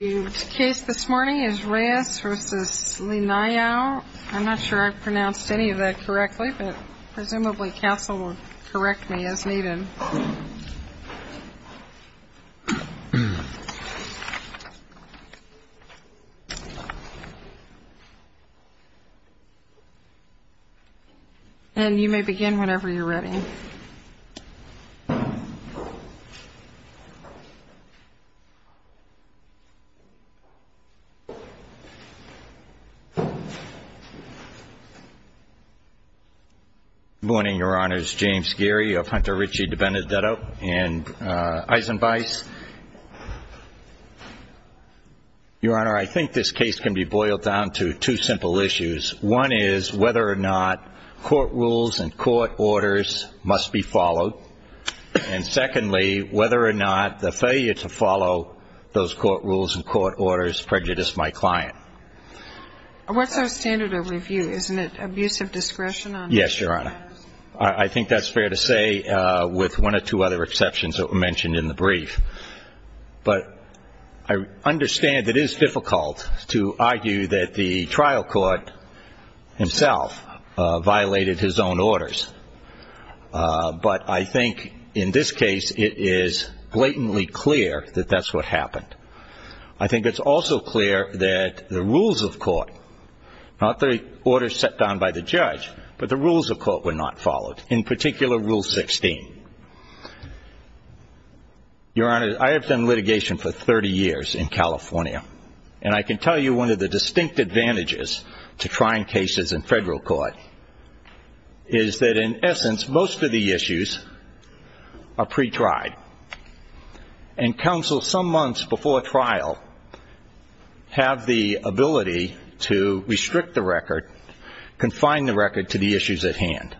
The case this morning is reyes v. linayao. I'm not sure I've pronounced any of that correctly, but presumably counsel will correct me as needed. And you may begin whenever you're ready. Good morning, your honors. James Geary of Hunter Ritchie DiBenedetto and Eisenbeiss. Your honor, I think this case can be boiled down to two simple issues. One is whether or not court rules and court orders must be followed. And secondly, whether or not the failure to follow those court rules and court orders prejudice my client. What's our standard of review? Isn't it abuse of discretion? Yes, your honor. I think that's fair to say with one or two other exceptions that were mentioned in the brief. But I understand it is difficult to argue that the trial court himself violated his own orders. But I think in this case it is blatantly clear that that's what happened. I think it's also clear that the rules of court, not the orders set down by the judge, but the rules of court were not followed, in particular rule 16. Your honor, I have done litigation for 30 years in California. And I can tell you one of the distinct advantages to trying cases in federal court is that in essence most of the issues are pre-tried. And counsel some months before trial have the ability to restrict the record, confine the record to the issues at hand.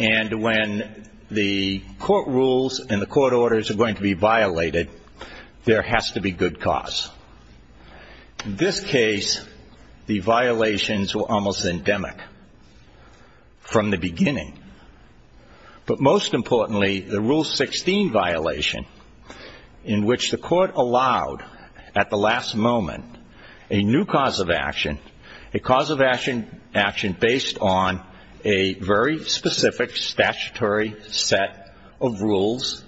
And when the court rules and the court orders are going to be violated, there has to be good cause. In this case, the violations were almost endemic from the beginning. But most importantly, the rule 16 violation in which the court allowed at the last moment a new cause of action, a cause of action based on a very specific statutory set of rules,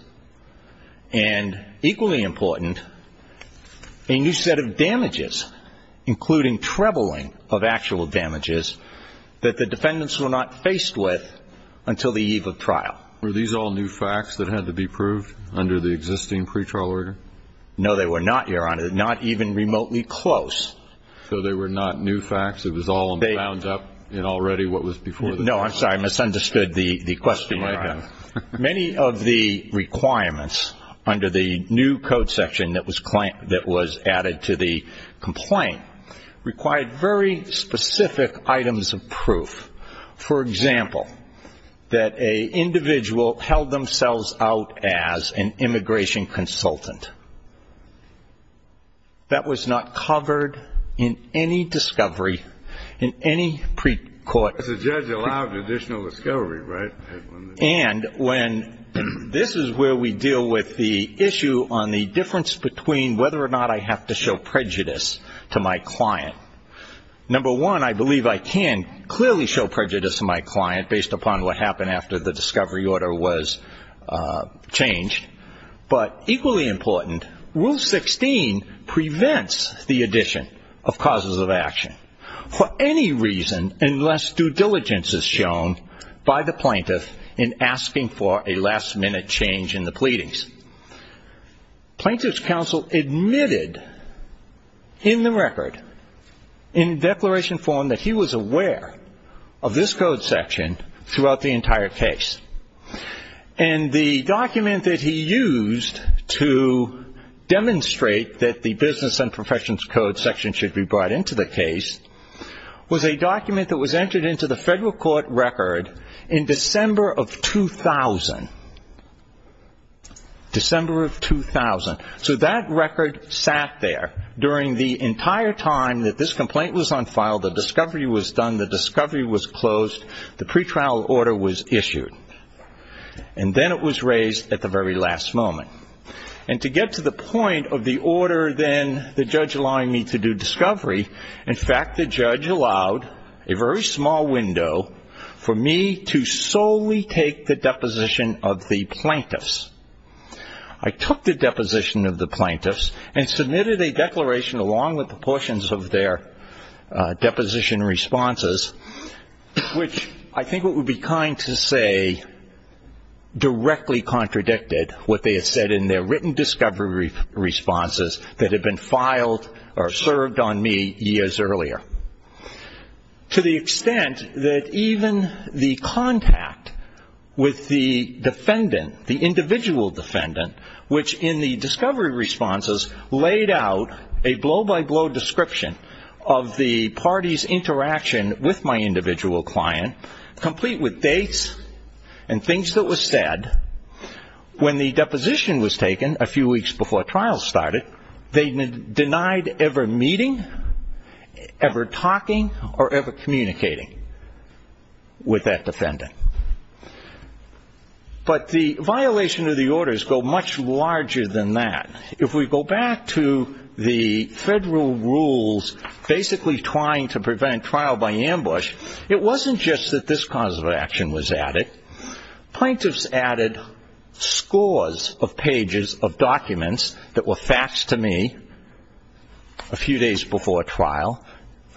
and equally important, a new set of damages, including trebling of actual damages, that the defendants were not faced with until the eve of trial. Were these all new facts that had to be proved under the existing pretrial order? No, they were not, your honor, not even remotely close. So they were not new facts. It was all bound up in already what was before them. I misunderstood the question, your honor. Many of the requirements under the new code section that was added to the complaint required very specific items of proof. For example, that an individual held themselves out as an immigration consultant. That was not covered in any discovery in any pre-court. The judge allowed additional discovery, right? And this is where we deal with the issue on the difference between whether or not I have to show prejudice to my client. Number one, I believe I can clearly show prejudice to my client based upon what happened after the discovery order was changed. But equally important, rule 16 prevents the addition of causes of action. For any reason, unless due diligence is shown by the plaintiff in asking for a last-minute change in the pleadings. Plaintiff's counsel admitted in the record, in declaration form, that he was aware of this code section throughout the entire case. And the document that he used to demonstrate that the business and professions code section should be brought into the case was a document that was entered into the federal court record in December of 2000. December of 2000. So that record sat there during the entire time that this complaint was unfiled, the discovery was done, the discovery was closed, the pretrial order was issued. And then it was raised at the very last moment. And to get to the point of the order, then, the judge allowing me to do discovery, in fact the judge allowed a very small window for me to solely take the deposition of the plaintiffs. I took the deposition of the plaintiffs and submitted a declaration along with the portions of their deposition responses, which I think what would be kind to say directly contradicted what they had said in their written discovery responses that had been filed or served on me years earlier. To the extent that even the contact with the defendant, the individual defendant, which in the discovery responses laid out a blow-by-blow description of the party's interaction with my individual client, complete with dates and things that were said, when the deposition was taken a few weeks before trial started, they denied ever meeting, ever talking, or ever communicating with that defendant. But the violation of the orders go much larger than that. If we go back to the federal rules basically trying to prevent trial by ambush, it wasn't just that this cause of action was added. Plaintiffs added scores of pages of documents that were facts to me a few days before trial.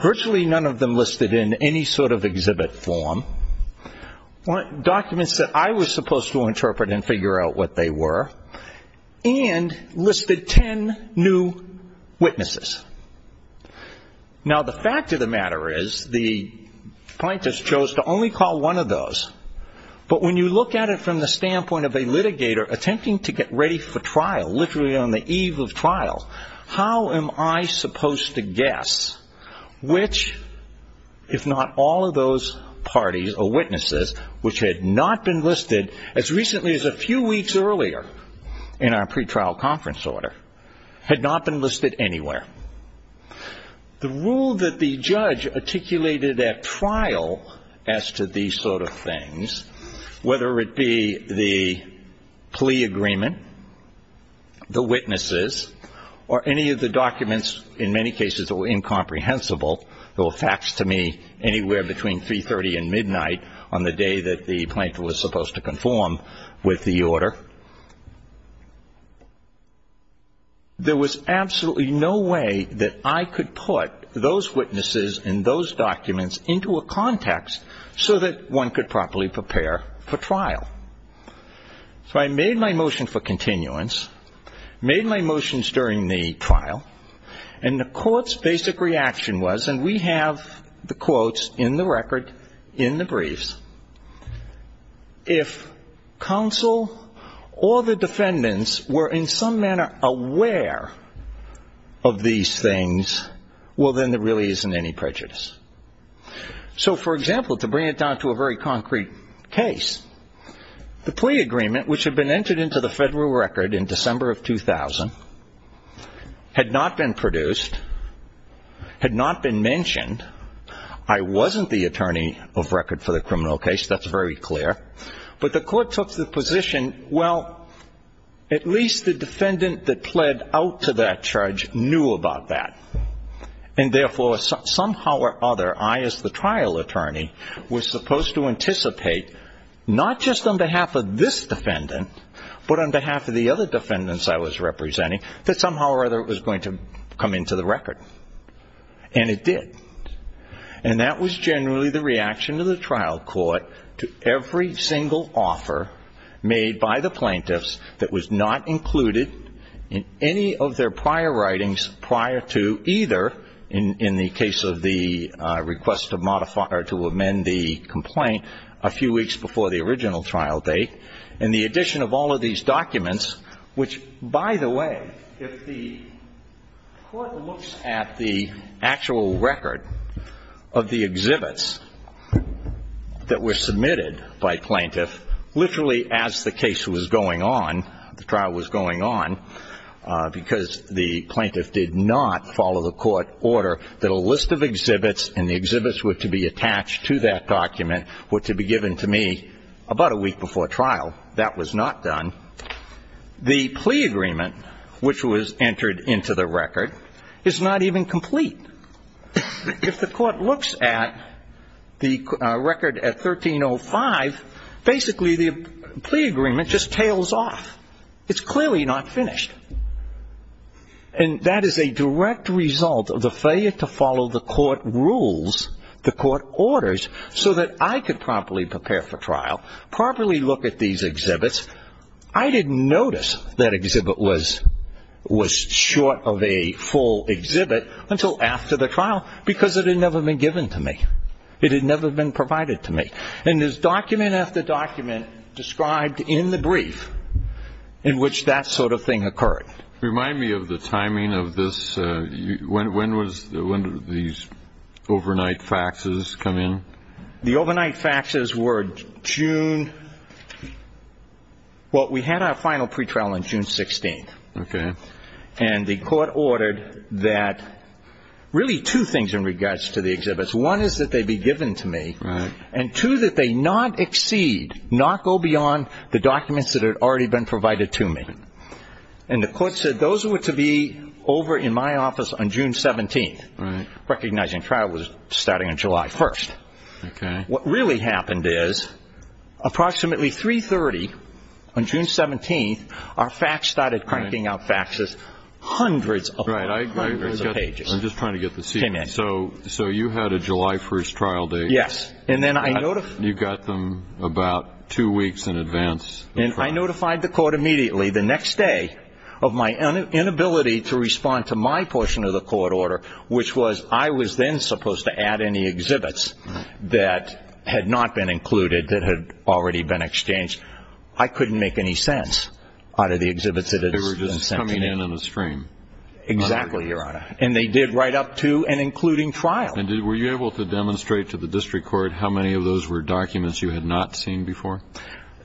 Virtually none of them listed in any sort of exhibit form. Documents that I was supposed to interpret and figure out what they were and listed ten new witnesses. Now the fact of the matter is the plaintiffs chose to only call one of those, but when you look at it from the standpoint of a litigator attempting to get ready for trial, literally on the eve of trial, how am I supposed to guess which, if not all of those parties or witnesses, which had not been listed as recently as a few weeks earlier in our pretrial conference order, had not been listed anywhere. The rule that the judge articulated at trial as to these sort of things, whether it be the plea agreement, the witnesses, or any of the documents in many cases that were incomprehensible, that were facts to me anywhere between 3.30 and midnight on the day that the plaintiff was supposed to conform with the order, there was absolutely no way that I could put those witnesses and those documents into a context so that one could properly prepare for trial. So I made my motion for continuance, made my motions during the trial, and the court's basic reaction was, and we have the quotes in the record in the briefs, if counsel or the defendants were in some manner aware of these things, well then there really isn't any prejudice. So for example, to bring it down to a very concrete case, the plea agreement which had been entered into the federal record in December of 2000 had not been produced, had not been mentioned, I wasn't the attorney of record for the criminal case, that's very clear, but the court took the position, well, at least the defendant that pled out to that charge knew about that, and therefore somehow or other I as the trial attorney was supposed to anticipate, not just on behalf of this defendant, but on behalf of the other defendants I was representing, that somehow or other it was going to come into the record. And it did. And that was generally the reaction of the trial court to every single offer made by the plaintiffs that was not included in any of their prior writings prior to either, in the case of the request to modify or to amend the complaint, a few weeks before the original trial date, and the addition of all of these documents, which by the way, if the court looks at the actual record of the exhibits that were submitted by plaintiffs, literally as the case was going on, the trial was going on, because the plaintiff did not follow the court order that a list of exhibits and the exhibits were to be attached to that document were to be given to me about a week before trial. That was not done. The plea agreement, which was entered into the record, is not even complete. If the court looks at the record at 1305, basically the plea agreement just tails off. It's clearly not finished. And that is a direct result of the failure to follow the court rules, the court orders, so that I could properly prepare for trial, properly look at these exhibits. I didn't notice that exhibit was short of a full exhibit until after the trial, because it had never been given to me. It had never been provided to me. And there's document after document described in the brief in which that sort of thing occurred. Remind me of the timing of this. When did these overnight faxes come in? The overnight faxes were June, well, we had our final pretrial on June 16th. And the court ordered that really two things in regards to the exhibits. One is that they be given to me, and two, that they not exceed, not go beyond the documents that had already been provided to me. And the court said those were to be over in my office on June 17th, recognizing trial was starting on July 1st. What really happened is, approximately 3.30 on June 17th, our fax started cranking out faxes hundreds upon hundreds of pages. I'm just trying to get the sequence. So you had a July 1st trial date. Yes. You got them about two weeks in advance. And I notified the court immediately the next day of my inability to respond to my portion of the court order, which was I was then supposed to add any exhibits that had not been included, that had already been exchanged. I couldn't make any sense out of the exhibits. They were just coming in in a stream. Exactly, Your Honor. And they did right up to and including trial. And were you able to demonstrate to the district court how many of those were documents you had not seen before?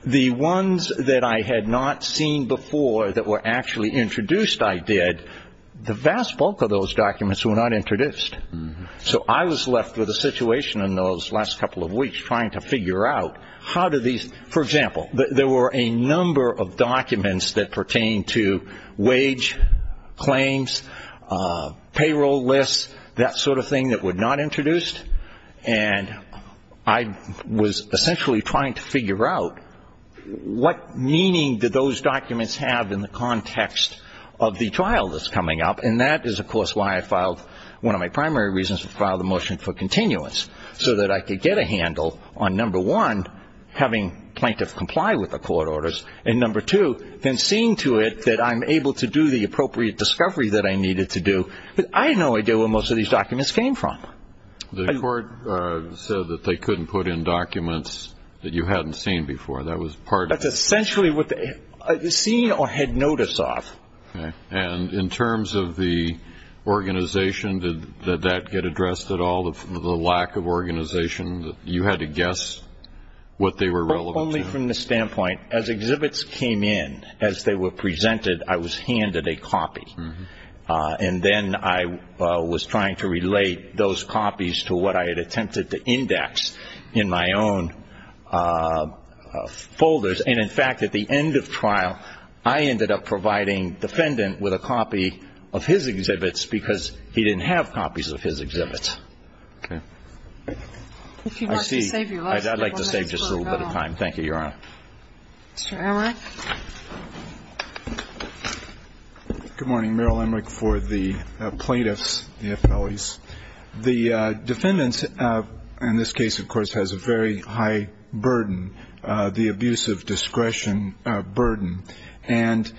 The ones that I had not seen before that were actually introduced, I did. The vast bulk of those documents were not introduced. So I was left with a situation in those last couple of weeks trying to figure out how did these, for example, there were a number of documents that pertained to wage claims, payroll lists, that sort of thing that were not introduced. And I was essentially trying to figure out what meaning did those documents have in the context of the trial, that's coming up. And that is, of course, why I filed, one of my primary reasons to file the motion for continuance, so that I could get a handle on, number one, having plaintiffs comply with the court orders, and number two, then seeing to it that I'm able to do the appropriate discovery that I needed to do. But I had no idea where most of these documents came from. The court said that they couldn't put in documents that you hadn't seen before. That was part of it. That's essentially what they had seen or had notice of. Okay. And in terms of the organization, did that get addressed at all, the lack of organization? You had to guess what they were relevant to? Only from the standpoint, as exhibits came in, as they were presented, I was handed a copy. And then I was trying to relate those copies to what I had attempted to index in my own folders. And, in fact, at the end of trial, I ended up providing defendant with a copy of his exhibits, because he didn't have copies of his exhibits. Okay. If you'd like to save your lesson, go ahead. I'd like to save just a little bit of time. Thank you, Your Honor. Mr. Emmerich. Merrill Emmerich for the plaintiffs, the appellees. The defendants, in this case, of course, has a very high burden, the abuse of discretion burden. And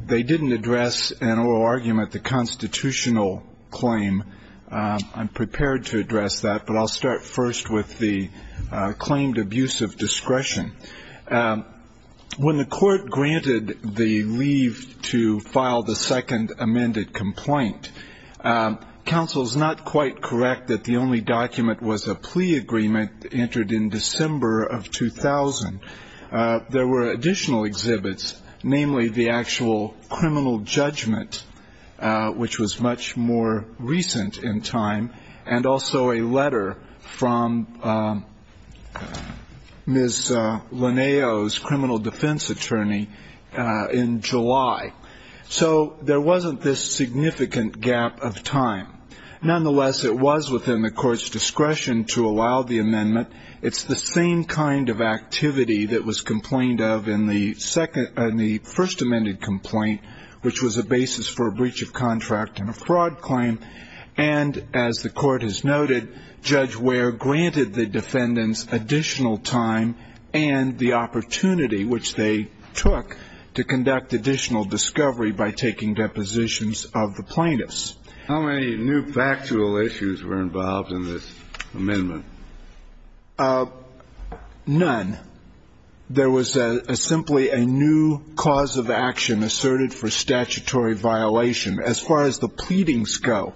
they didn't address an oral argument, the constitutional claim. I'm prepared to address that, but I'll start first with the claimed abuse of discretion. When the court granted the leave to file the second amended complaint, counsel is not quite correct that the only document was a plea agreement entered in December of 2000. There were additional exhibits, namely the actual criminal judgment, and also a letter from Ms. Linneo's criminal defense attorney in July. So there wasn't this significant gap of time. Nonetheless, it was within the court's discretion to allow the amendment. It's the same kind of activity that was complained of in the first amended complaint, which was a basis for a breach of contract and a fraud claim. And as the court has noted, Judge Ware granted the defendants additional time and the opportunity which they took to conduct additional discovery by taking depositions of the plaintiffs. How many new factual issues were involved in this amendment? None. There was simply a new cause of action asserted for statutory violation. As far as the pleadings go,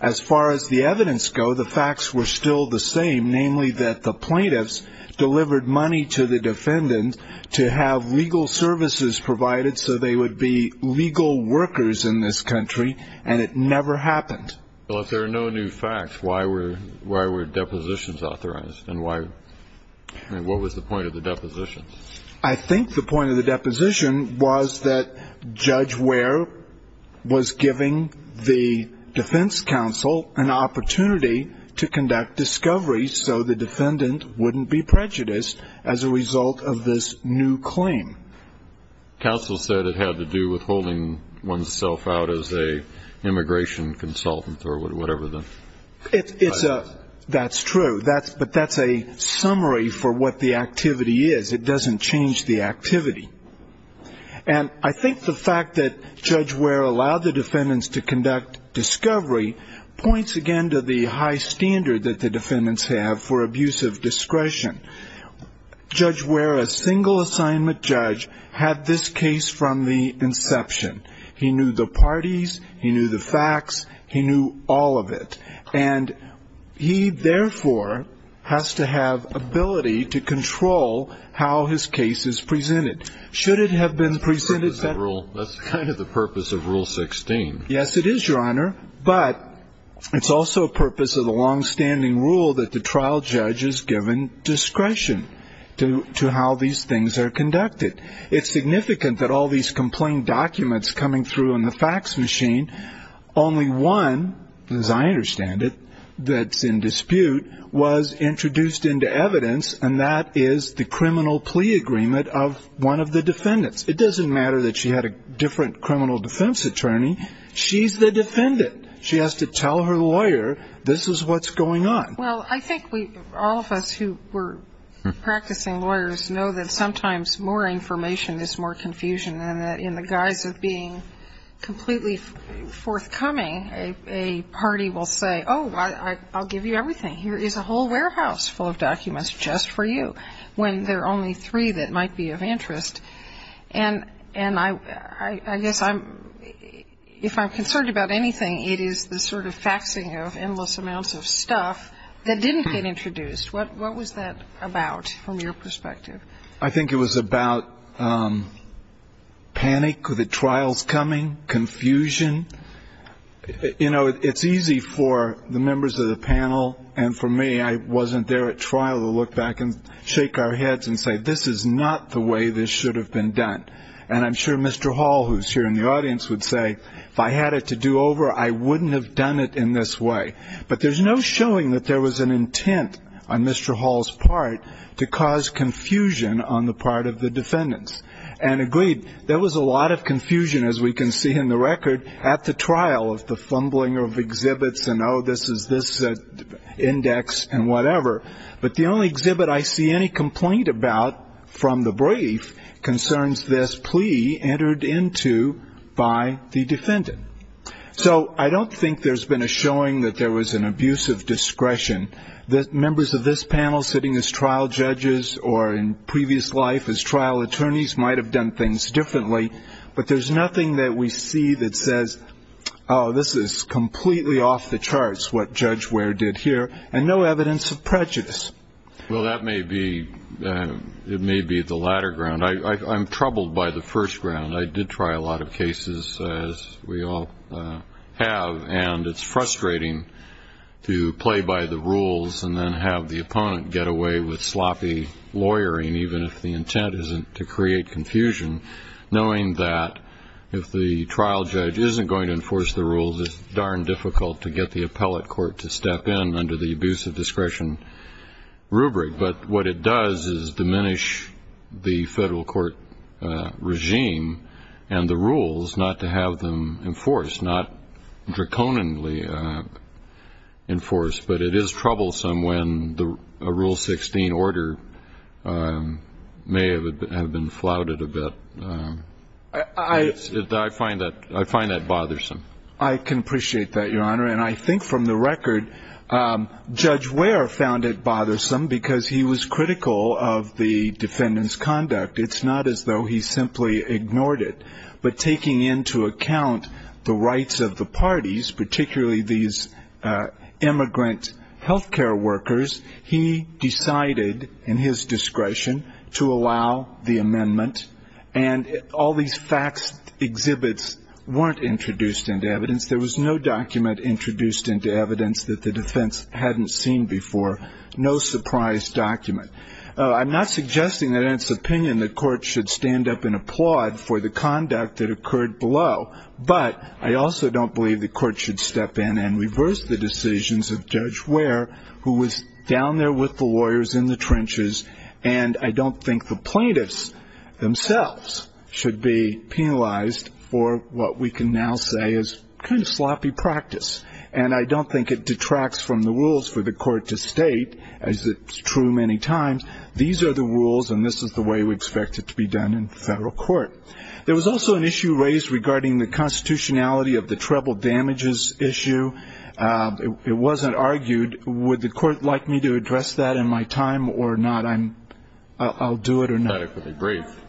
as far as the evidence go, the facts were still the same, namely that the plaintiffs delivered money to the defendant to have legal services provided so they would be legal workers in this country, and it never happened. Well, if there are no new facts, why were depositions authorized? And what was the point of the depositions? I think the point of the deposition was that Judge Ware was giving the defense counsel an opportunity to conduct discovery so the defendant wouldn't be prejudiced as a result of this new claim. Counsel said it had to do with holding oneself out as an immigration consultant or whatever the... That's true, but that's a summary for what the activity is. It doesn't change the activity. And I think the fact that Judge Ware allowed the defendants to conduct discovery points again to the high standard that the defendants have for abuse of discretion. Judge Ware, a single assignment judge, had this case from the inception. He knew the parties, he knew the facts, he knew all of it. And he, therefore, has to have ability to control how his case is presented. Should it have been presented... That's kind of the purpose of Rule 16. Yes, it is, Your Honor, but it's also a purpose of the long-standing rule that the trial judge is given discretion to how these things are conducted. It's significant that all these complaint documents coming through on the fax machine, only one, as I understand it, that's in dispute, was introduced into evidence, and that is the criminal plea agreement of one of the defendants. It doesn't matter that she had a different criminal defense attorney. She's the defendant. She has to tell her lawyer this is what's going on. Well, I think all of us who were practicing lawyers know that sometimes more information is more confusion, and that in the guise of being completely forthcoming, a party will say, oh, I'll give you everything. Here is a whole warehouse full of documents just for you, when there are only three that might be of interest. And I guess if I'm concerned about anything, it is the sort of faxing of endless amounts of stuff that didn't get introduced. What was that about from your perspective? I think it was about panic, the trials coming, confusion. You know, it's easy for the members of the panel and for me, I wasn't there at trial to look back and shake our heads and say, this is not the way this should have been done. And I'm sure Mr. Hall, who's here in the audience, would say, if I had it to do over, I wouldn't have done it in this way. But there's no showing that there was an intent on Mr. Hall's part to cause confusion on the part of the defendants. And agreed, there was a lot of confusion, as we can see in the record, at the trial of the fumbling of exhibits and, oh, this is this index and whatever. But the only exhibit I see any complaint about from the brief concerns this plea entered into by the defendant. So I don't think there's been a showing that there was an abuse of discretion. Members of this panel sitting as trial judges or in previous life as trial attorneys might have done things differently. But there's nothing that we see that says, oh, this is completely off the charts, what Judge Ware did here, and no evidence of prejudice. Well, that may be the latter ground. I'm troubled by the first ground. I did try a lot of cases, as we all have, and it's frustrating to play by the rules and then have the opponent get away with sloppy lawyering, even if the intent isn't to create confusion, knowing that if the trial judge isn't going to enforce the rules, it's darn difficult to get the appellate court to step in under the abuse of discretion rubric. But what it does is diminish the federal court regime and the rules not to have them enforced, not draconianly enforced. But it is troublesome when a Rule 16 order may have been flouted a bit. I find that bothersome. I can appreciate that, Your Honor. And I think from the record, Judge Ware found it bothersome because he was critical of the defendant's conduct. It's not as though he simply ignored it. But taking into account the rights of the parties, particularly these immigrant health care workers, he decided, in his discretion, to allow the amendment. And all these facts, exhibits, weren't introduced into evidence. There was no document introduced into evidence that the defense hadn't seen before. No surprise document. I'm not suggesting that, in its opinion, the court should stand up and applaud for the conduct that occurred below. But I also don't believe the court should step in and reverse the decisions of Judge Ware, who was down there with the lawyers in the trenches. And I don't think the plaintiffs themselves should be penalized for what we can now say is kind of sloppy practice. And I don't think it detracts from the rules for the court to state, as it's true many times, these are the rules and this is the way we expect it to be done in federal court. There was also an issue raised regarding the constitutionality of the treble damages issue. It wasn't argued. Would the court like me to address that in my time or not? I'll do it or not.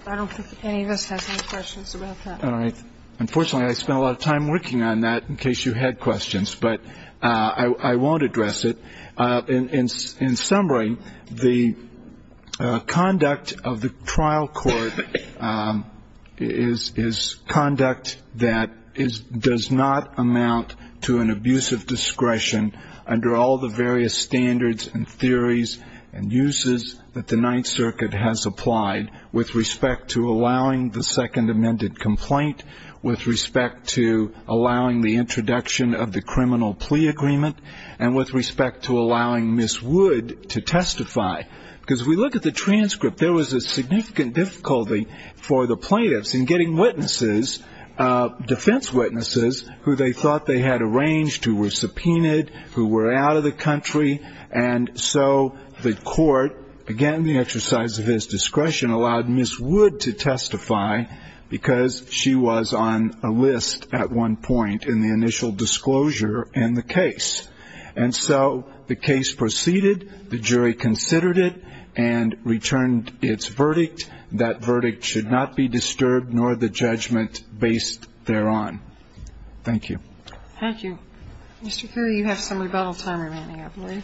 I don't think any of us has any questions about that. Unfortunately, I spent a lot of time working on that, in case you had questions. But I won't address it. In summary, the conduct of the trial court is conduct that does not amount to an abusive discretion under all the various standards and theories and uses that the Ninth Circuit has applied with respect to allowing the second amended complaint, with respect to allowing the introduction of the criminal plea agreement, and with respect to allowing Ms. Wood to testify. Because if we look at the transcript, there was a significant difficulty for the plaintiffs in getting witnesses, defense witnesses, who they thought they had arranged, who were subpoenaed, who were out of the country. And so the court, again, the exercise of his discretion, allowed Ms. Wood to testify, because she was on a list at one point in the initial disclosure in the case. And so the case proceeded, the jury considered it, and returned its verdict. That verdict should not be disturbed, nor the judgment based thereon. Thank you. Thank you. Mr. Curry, you have some rebuttal time remaining, I believe.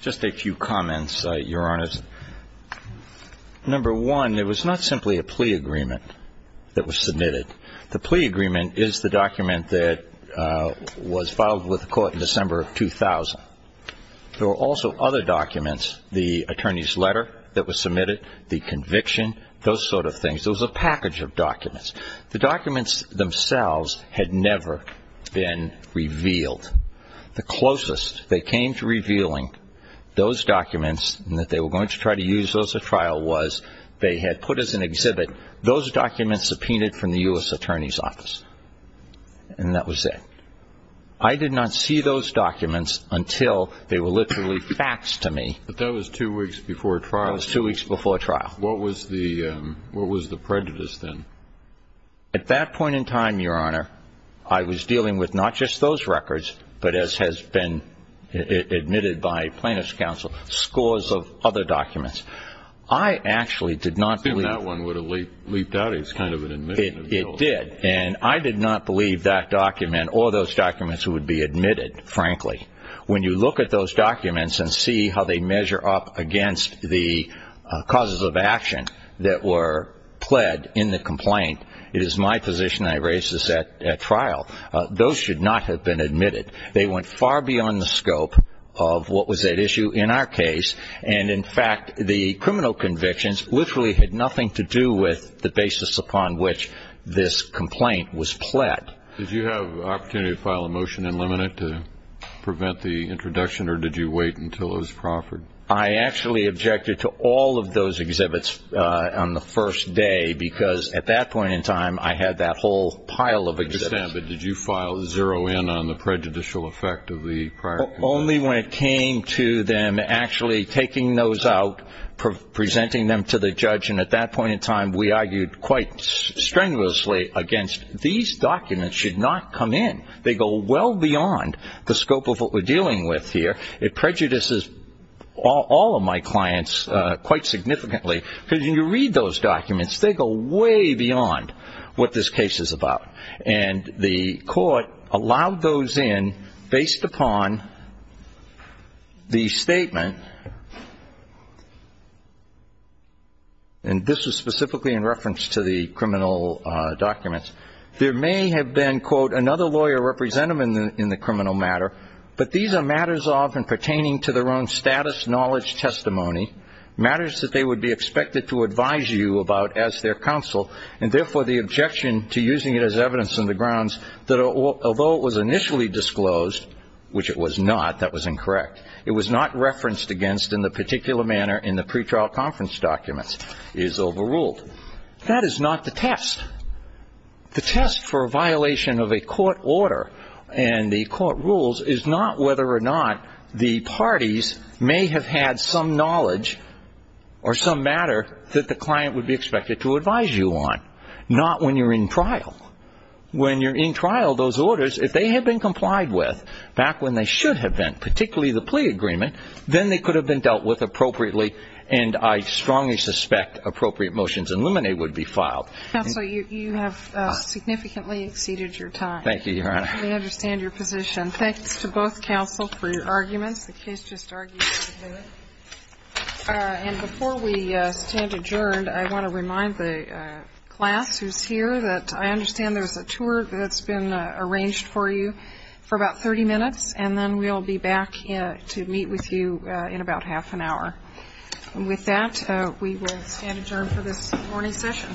Just a few comments, Your Honor. Number one, it was not simply a plea agreement that was submitted. The plea agreement is the document that was filed with the court in December of 2000. There were also other documents, the attorney's letter that was submitted, the conviction, those sort of things. There was a package of documents. The documents themselves had never been revealed. The closest they came to revealing those documents, and that they were going to try to use those at trial, was they had put as an exhibit those documents subpoenaed from the U.S. Attorney's Office. And that was it. I did not see those documents until they were literally facts to me. But that was two weeks before trial. That was two weeks before trial. What was the prejudice then? At that point in time, Your Honor, I was dealing with not just those records, but as has been admitted by plaintiff's counsel, scores of other documents. I actually did not believe that it leaped out as kind of an admission of guilt. It did. And I did not believe that document or those documents would be admitted, frankly. When you look at those documents and see how they measure up against the causes of action that were pled in the complaint, it is my position I raise this at trial. Those should not have been admitted. They went far beyond the scope of what was at issue in our case. And, in fact, the criminal convictions literally had nothing to do with the basis upon which this complaint was pled. Did you have an opportunity to file a motion and limit it to prevent the introduction or did you wait until it was proffered? I actually objected to all of those exhibits on the first day because at that point in time I had that whole pile of exhibits. I understand, but did you file zero in on the prejudicial effect of the prior complaint? Only when it came to them actually taking those out, I went to the judge and at that point in time we argued quite strenuously against these documents should not come in. They go well beyond the scope of what we're dealing with here. It prejudices all of my clients quite significantly because when you read those documents they go way beyond what this case is about. And the court allowed those in based upon the statement and this is specifically in reference to the criminal documents. There may have been another lawyer representative in the criminal matter but these are matters often pertaining to their own status, knowledge, testimony. Matters that they would be expected to advise you about as their counsel and therefore the objection to using it as evidence on the grounds that although it was initially disclosed which it was not, that was incorrect. It was not referenced against in the particular manner in which this case is overruled. That is not the test. The test for a violation of a court order and the court rules is not whether or not the parties may have had some knowledge or some matter that the client would be expected to advise you on. Not when you're in trial. When you're in trial those orders, if they had been complied with back when they should have been particularly the plea agreement that you would expect appropriate motions in Luminae would be filed. Counsel, you have significantly exceeded your time. Thank you, Your Honor. We understand your position. Thanks to both counsel for your arguments. The case just argues to do it. And before we stand adjourned I want to remind the class who's here that I understand there's a tour that's been arranged for you for about 30 minutes and then we'll be back to meet with you in about half an hour. And with that we will stand adjourned for this morning's session. Thank you.